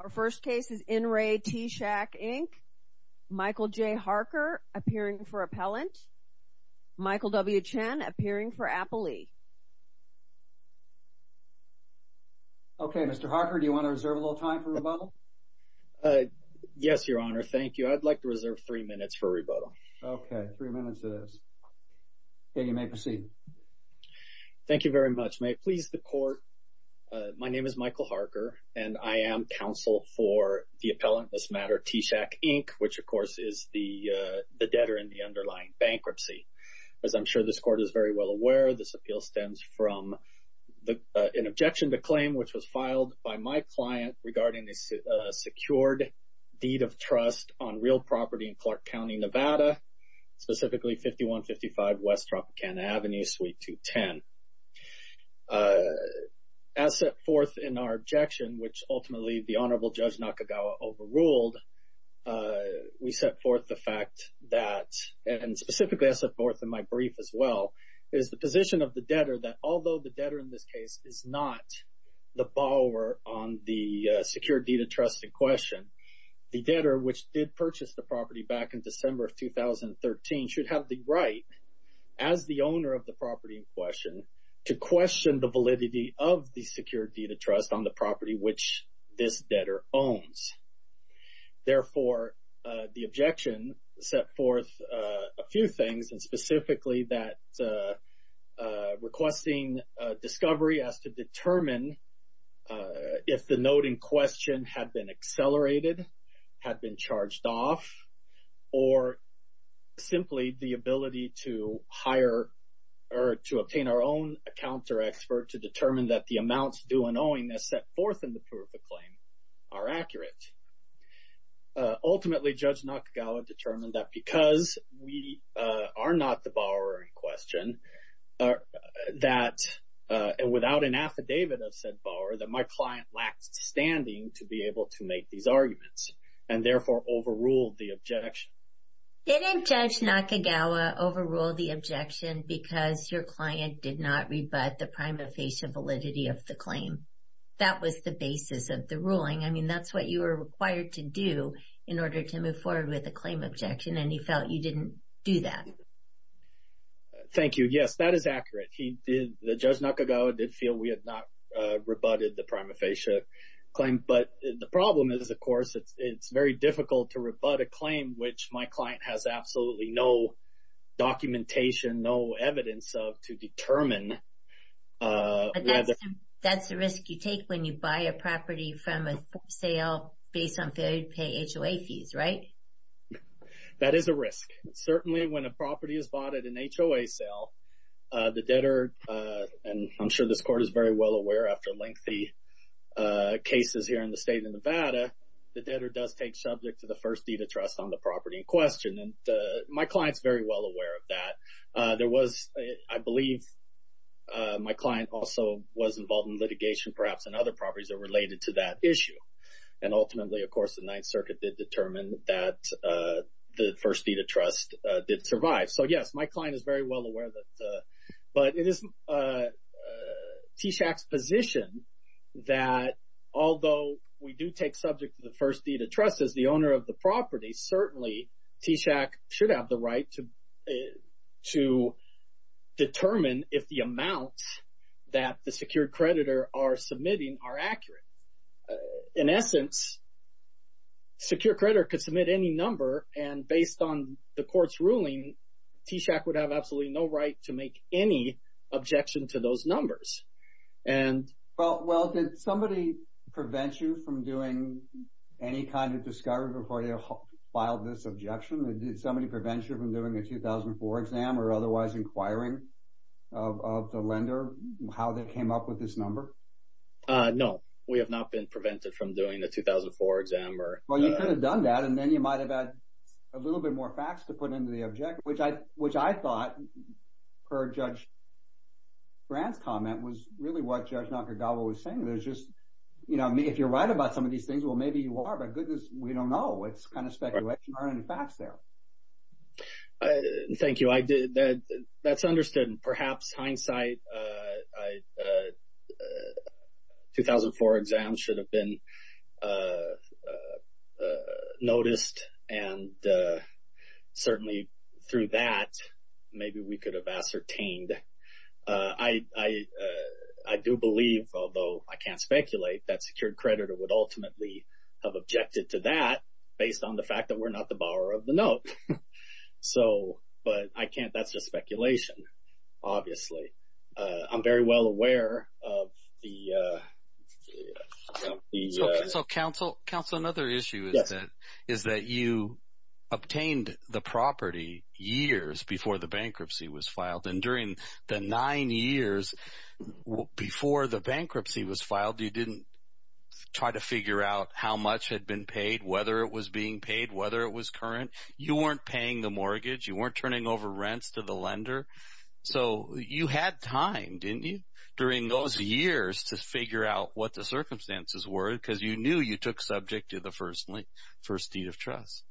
Our first case is In Re T-Shack, Inc. Michael J. Harker, appearing for appellant. Michael W. Chen, appearing for appellee. Okay, Mr. Harker, do you want to reserve a little time for rebuttal? Yes, Your Honor. Thank you. I'd like to reserve three minutes for rebuttal. Okay. Three minutes it is. Okay, you may proceed. Thank you very much. May it please the Court, my name is Michael Harker and I am counsel for the appellant this matter T-Shack, Inc., which of course is the debtor in the underlying bankruptcy. As I'm sure this Court is very well aware, this appeal stems from an objection to claim which was filed by my client regarding the secured deed of trust on real property in 2013. As set forth in our objection, which ultimately the Honorable Judge Nakagawa overruled, we set forth the fact that, and specifically as set forth in my brief as well, is the position of the debtor that although the debtor in this case is not the borrower on the secured deed of trust in question, the debtor which did purchase the property back in December of 2013 should have the right, as the owner of the property in question, to question the validity of the secured deed of trust on the property which this debtor owns. Therefore, the objection set forth a few things and specifically that requesting discovery has to determine if the note in question had been accelerated, had been charged off, or simply the ability to hire or to obtain our own account or expert to determine that the amounts due and owing as set forth in the proof of claim are accurate. Ultimately, Judge Nakagawa determined that because we are not the borrower in question, that without an affidavit of said borrower, that my client lacked standing to be able to make these arguments and therefore overruled the objection. Didn't Judge Nakagawa overrule the objection because your client did not rebut the prima facie validity of the claim? That was the basis of the ruling. I mean, that's what you were required to do in order to move forward with a claim objection and he felt you didn't do that. Thank you. Yes, that is accurate. He did. Judge Nakagawa did feel we had not rebutted the prima facie claim. But the problem is, of course, it's very difficult to rebut a claim which my client has absolutely no documentation, no evidence of, to determine whether... That's the risk you take when you buy a property from a sale based on failure to pay HOA fees, right? That is a risk. Certainly, when a property is bought at an HOA sale, the debtor, and I'm sure this court is very well aware after lengthy cases here in the state of Nevada, the debtor does take subject to the first deed of trust on the property in question. My client's very well aware of that. I believe my client also was involved in litigation perhaps in other properties that are related to that issue. And ultimately, of course, the Ninth Circuit did determine that the first deed of trust did survive. So, yes, my client is very well aware of that. But it is TSHAC's position that although we do take subject to the first deed of trust as the owner of the property, certainly, TSHAC should have the right to determine if the In essence, Secure Credit could submit any number and based on the court's ruling, TSHAC would have absolutely no right to make any objection to those numbers. And... Well, did somebody prevent you from doing any kind of discovery before you filed this objection? Did somebody prevent you from doing a 2004 exam or otherwise inquiring of the lender how they came up with this number? No. We have not been prevented from doing a 2004 exam or... Well, you could have done that and then you might have had a little bit more facts to put into the objection, which I thought per Judge Brandt's comment was really what Judge Nakagawa was saying. There's just, you know, if you're right about some of these things, well, maybe you are, but goodness, we don't know. It's kind of speculation. There aren't any facts there. Thank you. That's understood. In perhaps hindsight, a 2004 exam should have been noticed and certainly through that, maybe we could have ascertained. I do believe, although I can't speculate, that Secure Credit would ultimately have objected to that based on the fact that we're not the borrower of the note. So, but I can't, that's just speculation, obviously. I'm very well aware of the... So, Counsel, another issue is that you obtained the property years before the bankruptcy was filed and during the nine years before the bankruptcy was filed, you didn't try to figure out how much had been paid, whether it was being paid, whether it was current. You weren't paying the mortgage. You weren't turning over rents to the lender. So you had time, didn't you, during those years to figure out what the circumstances were because you knew you took subject to the first deed of trust.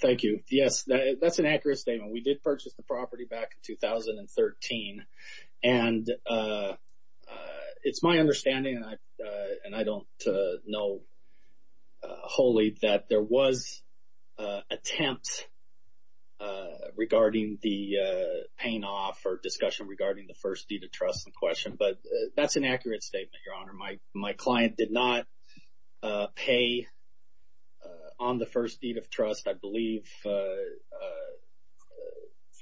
Thank you. Yes, that's an accurate statement. We did purchase the property back in 2013 and it's my understanding, and I don't know wholly, that there was an attempt regarding the paying off or discussion regarding the first deed of trust in question. But that's an accurate statement, Your Honor. My client did not pay on the first deed of trust. I believe for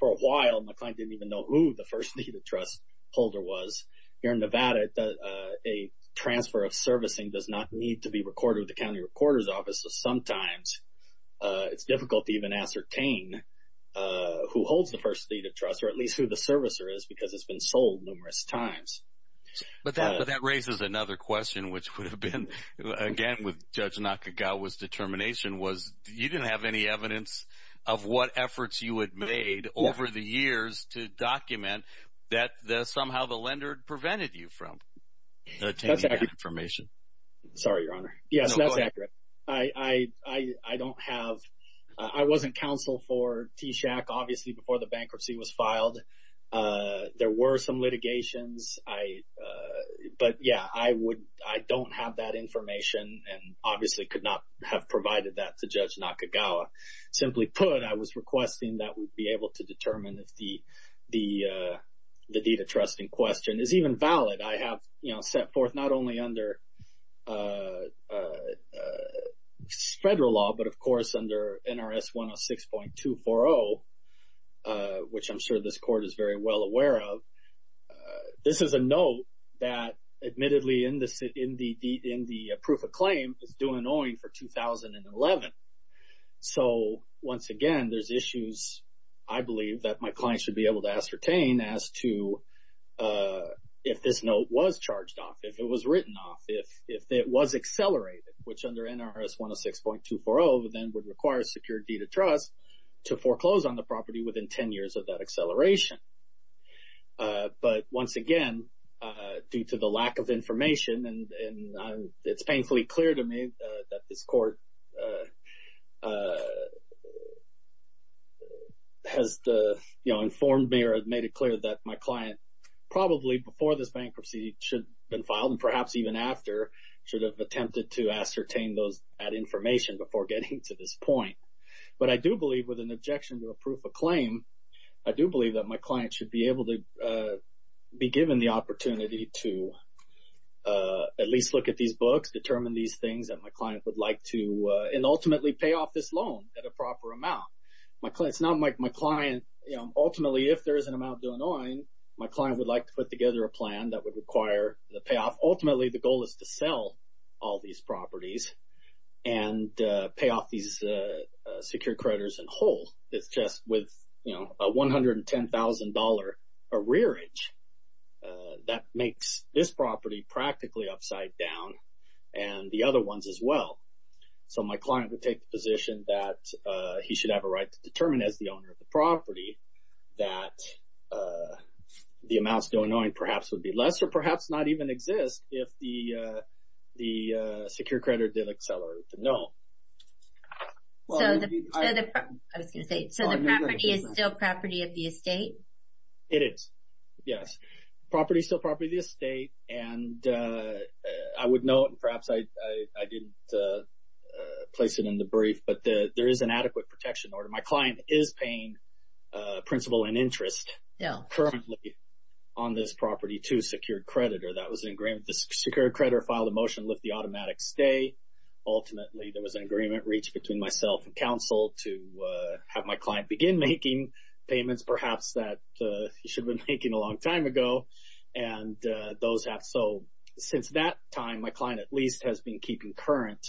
a while my client didn't even know who the first deed of trust holder was. Here in Nevada, a transfer of servicing does not need to be recorded with the county recorder's office so sometimes it's difficult to even ascertain who holds the first deed of trust or at least who the servicer is because it's been sold numerous times. But that raises another question which would have been, again, with Judge Nakagawa's determination was you didn't have any evidence of what efforts you had made over the years to document that somehow the lender prevented you from obtaining that information. That's accurate. Sorry, Your Honor. No, go ahead. Yes, that's accurate. I don't have, I wasn't counsel for TSHAC obviously before the bankruptcy was filed. There were some litigations, but yeah, I don't have that information and obviously could not have provided that to Judge Nakagawa. Simply put, I was requesting that we'd be able to determine if the deed of trust in question is even valid. I have set forth not only under federal law, but of course under NRS 106.240, which I'm sure this court is very well aware of. This is a note that admittedly in the proof of claim is due an owing for 2011. So once again, there's issues I believe that my clients should be able to ascertain as to if this note was charged off, if it was written off, if it was accelerated, which under NRS 106.240 then would require a secured deed of trust to foreclose on the property within 10 years of that acceleration. But once again, due to the lack of information and it's painfully clear to me that this has informed me or made it clear that my client probably before this bankruptcy should have been filed and perhaps even after should have attempted to ascertain that information before getting to this point. But I do believe with an objection to a proof of claim, I do believe that my client should be able to be given the opportunity to at least look at these books, determine these properties, and ultimately pay off this loan at a proper amount. It's not like my client, ultimately if there is an amount due an owing, my client would like to put together a plan that would require the payoff. Ultimately the goal is to sell all these properties and pay off these secured creditors in whole. It's just with a $110,000 arrearage that makes this property practically upside down and the other ones as well. So my client would take the position that he should have a right to determine as the owner of the property that the amounts due an owing perhaps would be less or perhaps not even exist if the secured creditor didn't accelerate it. No. I was going to say, so the property is still property of the estate? It is. Yes. The property is still property of the estate and I would note and perhaps I didn't place it in the brief, but there is an adequate protection order. My client is paying principal and interest currently on this property to a secured creditor. That was an agreement. The secured creditor filed a motion to lift the automatic stay. Ultimately, there was an agreement reached between myself and counsel to have my client begin making payments perhaps that he should have been making a long time ago and those have. So since that time, my client at least has been keeping current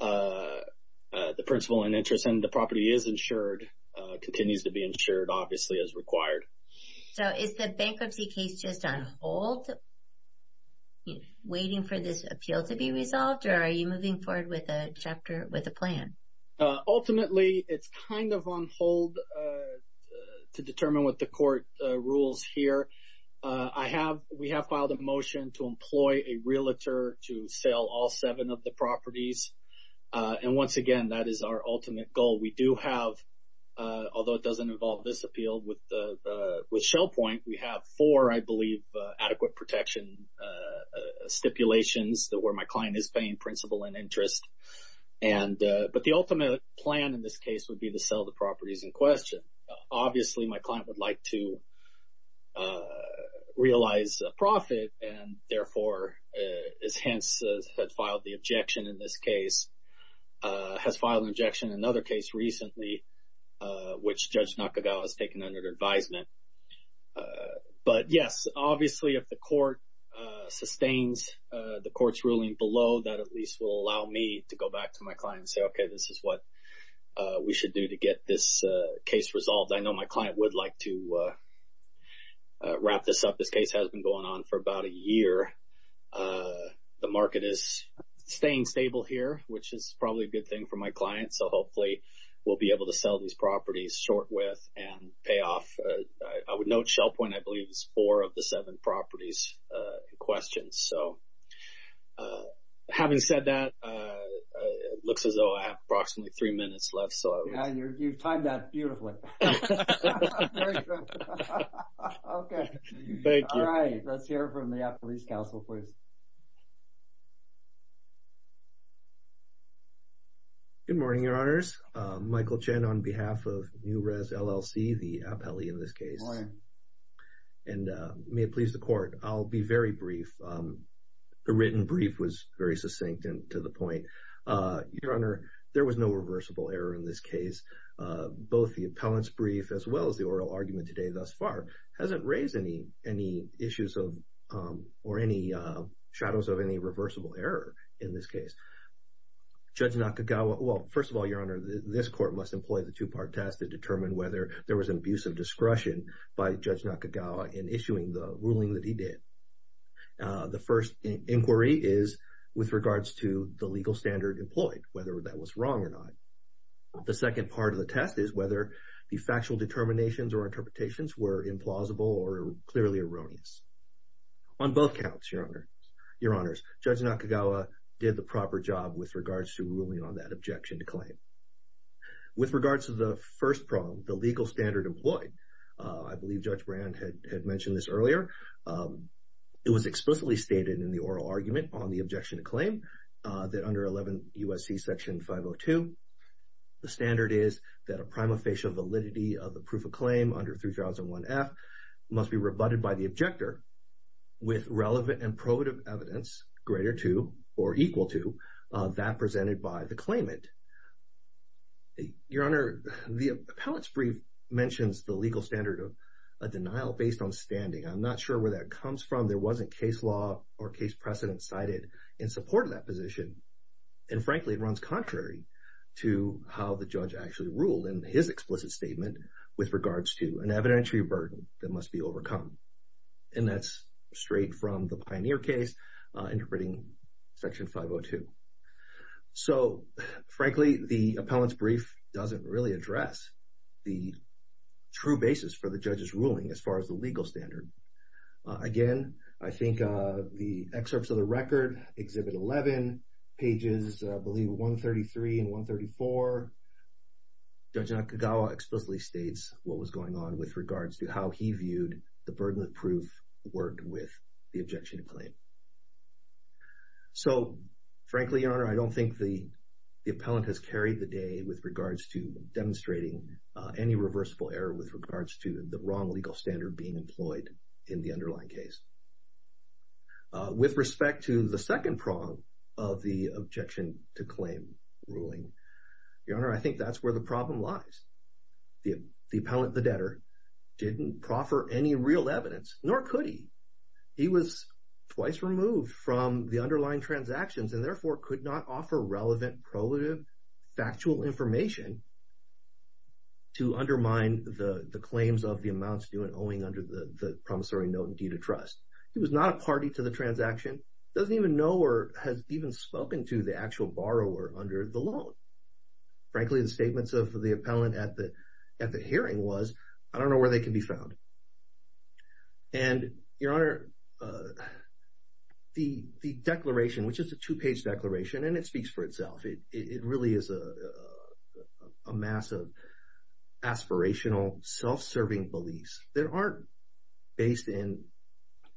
the principal and interest and the property is insured, continues to be insured obviously as required. So is the bankruptcy case just on hold, waiting for this appeal to be resolved or are you moving forward with a chapter, with a plan? Ultimately, it's kind of on hold to determine what the court rules here. We have filed a motion to employ a realtor to sell all seven of the properties and once again, that is our ultimate goal. We do have, although it doesn't involve this appeal with ShellPoint, we have four, I believe, adequate protection stipulations where my client is paying principal and interest. But the ultimate plan in this case would be to sell the properties in question. Obviously, my client would like to realize a profit and therefore, has hence had filed the objection in this case, has filed an objection in another case recently which Judge Nakagawa has taken under advisement. But yes, obviously, if the court sustains the court's ruling below, that at least will allow me to go back to my client and say, okay, this is what we should do to get this case resolved. I know my client would like to wrap this up. This case has been going on for about a year. The market is staying stable here which is probably a good thing for my client. So hopefully, we'll be able to sell these properties short with and pay off. I would note ShellPoint, I believe, is four of the seven properties in question. So having said that, it looks as though I have approximately three minutes left. So... Yeah, you've timed that beautifully. Okay. Thank you. All right. Let's hear from the Appellee's Council, please. Good morning, Your Honors. Michael Chen on behalf of New Rez LLC, the appellee in this case. Good morning. And may it please the court. I'll be very brief. The written brief was very succinct and to the point. Your Honor, there was no reversible error in this case. Both the appellant's brief as well as the oral argument today thus far hasn't raised any issues or any shadows of any reversible error in this case. Judge Nakagawa... Well, first of all, Your Honor, this court must employ the two-part test to determine whether there was an abuse of discretion by Judge Nakagawa in issuing the ruling that he did. The first inquiry is with regards to the legal standard employed, whether that was wrong or not. The second part of the test is whether the factual determinations or interpretations were implausible or clearly erroneous. On both counts, Your Honors, Judge Nakagawa did the proper job with regards to ruling on that objection to claim. With regards to the first problem, the legal standard employed, I believe Judge Brand had mentioned this earlier, it was explicitly stated in the oral argument on the objection to claim that under 11 U.S.C. section 502, the standard is that a prima facie validity of the proof of claim under 3001F must be rebutted by the objector with relevant and probative evidence greater to or equal to that presented by the claimant. Your Honor, the appellate's brief mentions the legal standard of a denial based on standing. I'm not sure where that comes from. There wasn't case law or case precedent cited in support of that position. And frankly, it runs contrary to how the judge actually ruled in his explicit statement with regards to an evidentiary burden that must be overcome. And that's straight from the Pioneer case interpreting section 502. So frankly, the appellate's brief doesn't really address the true basis for the judge's ruling as far as the legal standard. Again, I think the excerpts of the record, Exhibit 11, pages, I believe, 133 and 134, Judge Nakagawa explicitly states what was going on with regards to how he viewed the ruling. So frankly, Your Honor, I don't think the appellant has carried the day with regards to demonstrating any reversible error with regards to the wrong legal standard being employed in the underlying case. With respect to the second prong of the objection to claim ruling, Your Honor, I think that's where the problem lies. The appellant, the debtor, didn't proffer any real evidence, nor could he. He was twice removed from the underlying transactions and therefore could not offer relevant, probative, factual information to undermine the claims of the amounts due and owing under the promissory note and due to trust. He was not a party to the transaction, doesn't even know or has even spoken to the actual borrower under the loan. Frankly, the statements of the appellant at the hearing was, I don't know where they can be found. And, Your Honor, the declaration, which is a two-page declaration and it speaks for itself, it really is a mass of aspirational, self-serving beliefs that aren't based in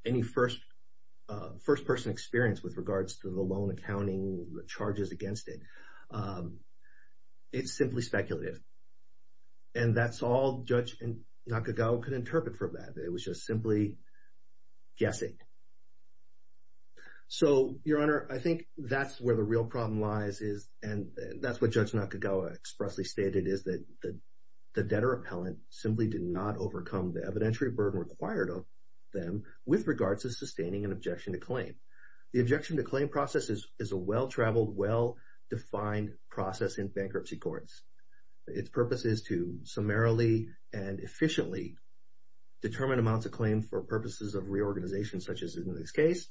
any first-person experience with regards to the loan accounting, the charges against it. It's simply speculative. And that's all Judge Nakagawa could interpret from that. It was just simply guessing. So, Your Honor, I think that's where the real problem lies and that's what Judge Nakagawa expressly stated is that the debtor appellant simply did not overcome the evidentiary burden required of them with regards to sustaining an objection to claim. The objection to claim process is a well-traveled, well-defined process in bankruptcy courts. Its purpose is to summarily and efficiently determine amounts of claim for purposes of reorganization such as in this case.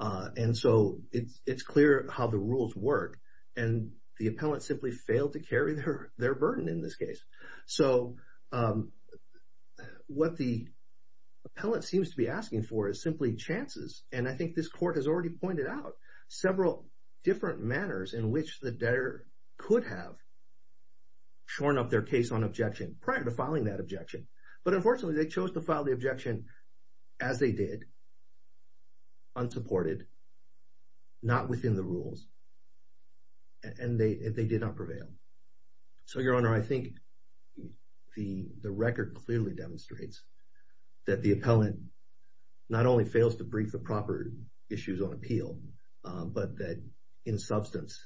And so it's clear how the rules work and the appellant simply failed to carry their burden in this case. So what the appellant seems to be asking for is simply chances. And I think this court has already pointed out several different manners in which the debtor could have shorn up their case on objection prior to filing that objection. But unfortunately, they chose to file the objection as they did, unsupported, not within the rules, and they did not prevail. So Your Honor, I think the record clearly demonstrates that the appellant not only fails to brief the proper issues on appeal, but that in substance,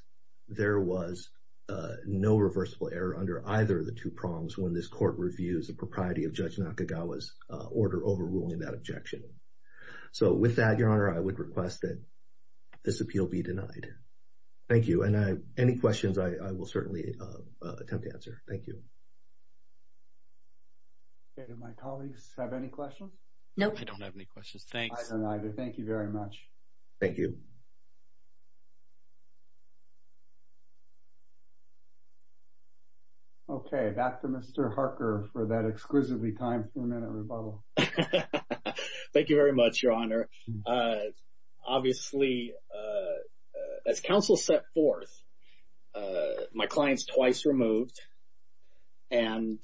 there was no reversible error under either of the two prongs when this court reviews the propriety of Judge Nakagawa's order overruling that objection. So with that, Your Honor, I would request that this appeal be denied. Thank you. And any questions, I will certainly attempt to answer. Thank you. Okay. Do my colleagues have any questions? No. I don't have any questions. Thanks. Okay. I don't either. Thank you very much. Thank you. Okay. Back to Mr. Harker for that exquisitely time-permitted rebuttal. Thank you very much, Your Honor. Obviously, as counsel set forth, my client's twice removed and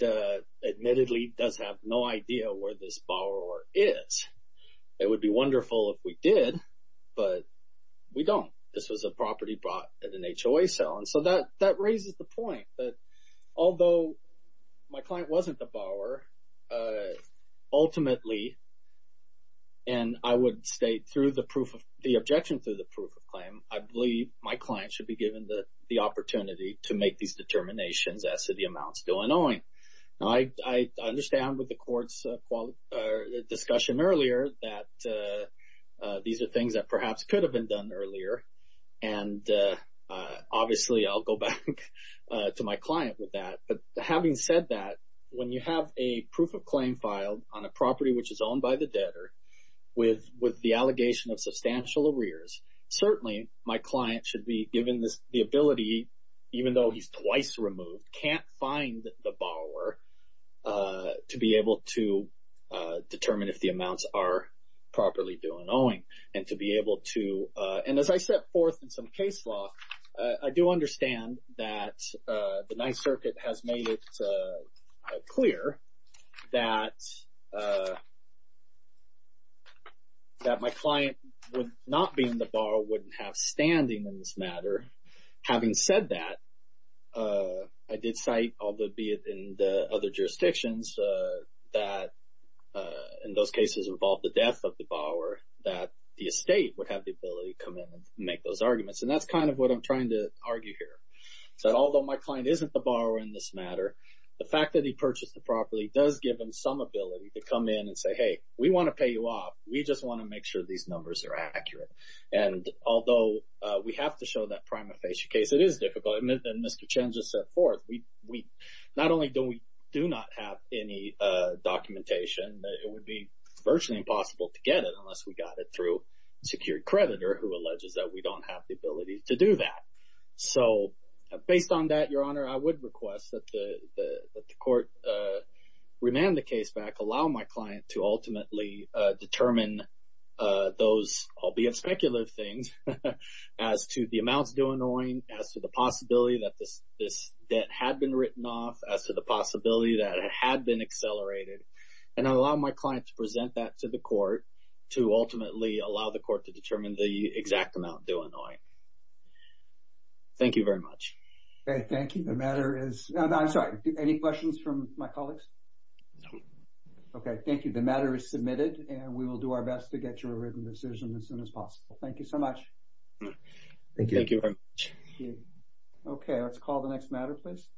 admittedly does have no idea where this borrower is. It would be wonderful if we did, but we don't. This was a property bought at an HOA sale, and so that raises the point that although my client wasn't the borrower, ultimately, and I would state through the objection through the proof of claim, I believe my client should be given the opportunity to make these determinations as to the amount still annoying. Now, I understand with the court's discussion earlier that these are things that perhaps could have been done earlier, and obviously, I'll go back to my client with that. But having said that, when you have a proof of claim filed on a property which is owned by the debtor with the allegation of substantial arrears, certainly, my client should be given the ability, even though he's twice removed, can't find the borrower to be able to determine if the amounts are properly due and owing, and to be able to, and as I set forth in some case law, I do understand that the Ninth Circuit has made it clear that my client would not be in the borrower, wouldn't have standing in this matter. Having said that, I did cite, albeit in the other jurisdictions, that in those cases involved the death of the borrower, that the estate would have the ability to come in and make those arguments, and that's kind of what I'm trying to argue here. So although my client isn't the borrower in this matter, the fact that he purchased the property does give him some ability to come in and say, hey, we want to pay you off, we just want to make sure these numbers are accurate, and although we have to show that prima facie case, it is difficult, and Mr. Chen just set forth, not only do we do not have any documentation, it would be virtually impossible to get it unless we got it through a secured creditor who alleges that we don't have the ability to do that. So based on that, Your Honor, I would request that the court remand the case back, allow my client to ultimately determine those, albeit speculative things, as to the amounts due annoying, as to the possibility that this debt had been written off, as to the possibility that it had been accelerated, and allow my client to present that to the court to ultimately allow the court to determine the exact amount due annoying. Thank you very much. Thank you. The matter is, I'm sorry, any questions from my colleagues? Okay. Thank you. The matter is submitted and we will do our best to get you a written decision as soon as possible. Thank you so much. Thank you. Thank you very much. Okay. Let's call the next matter, please.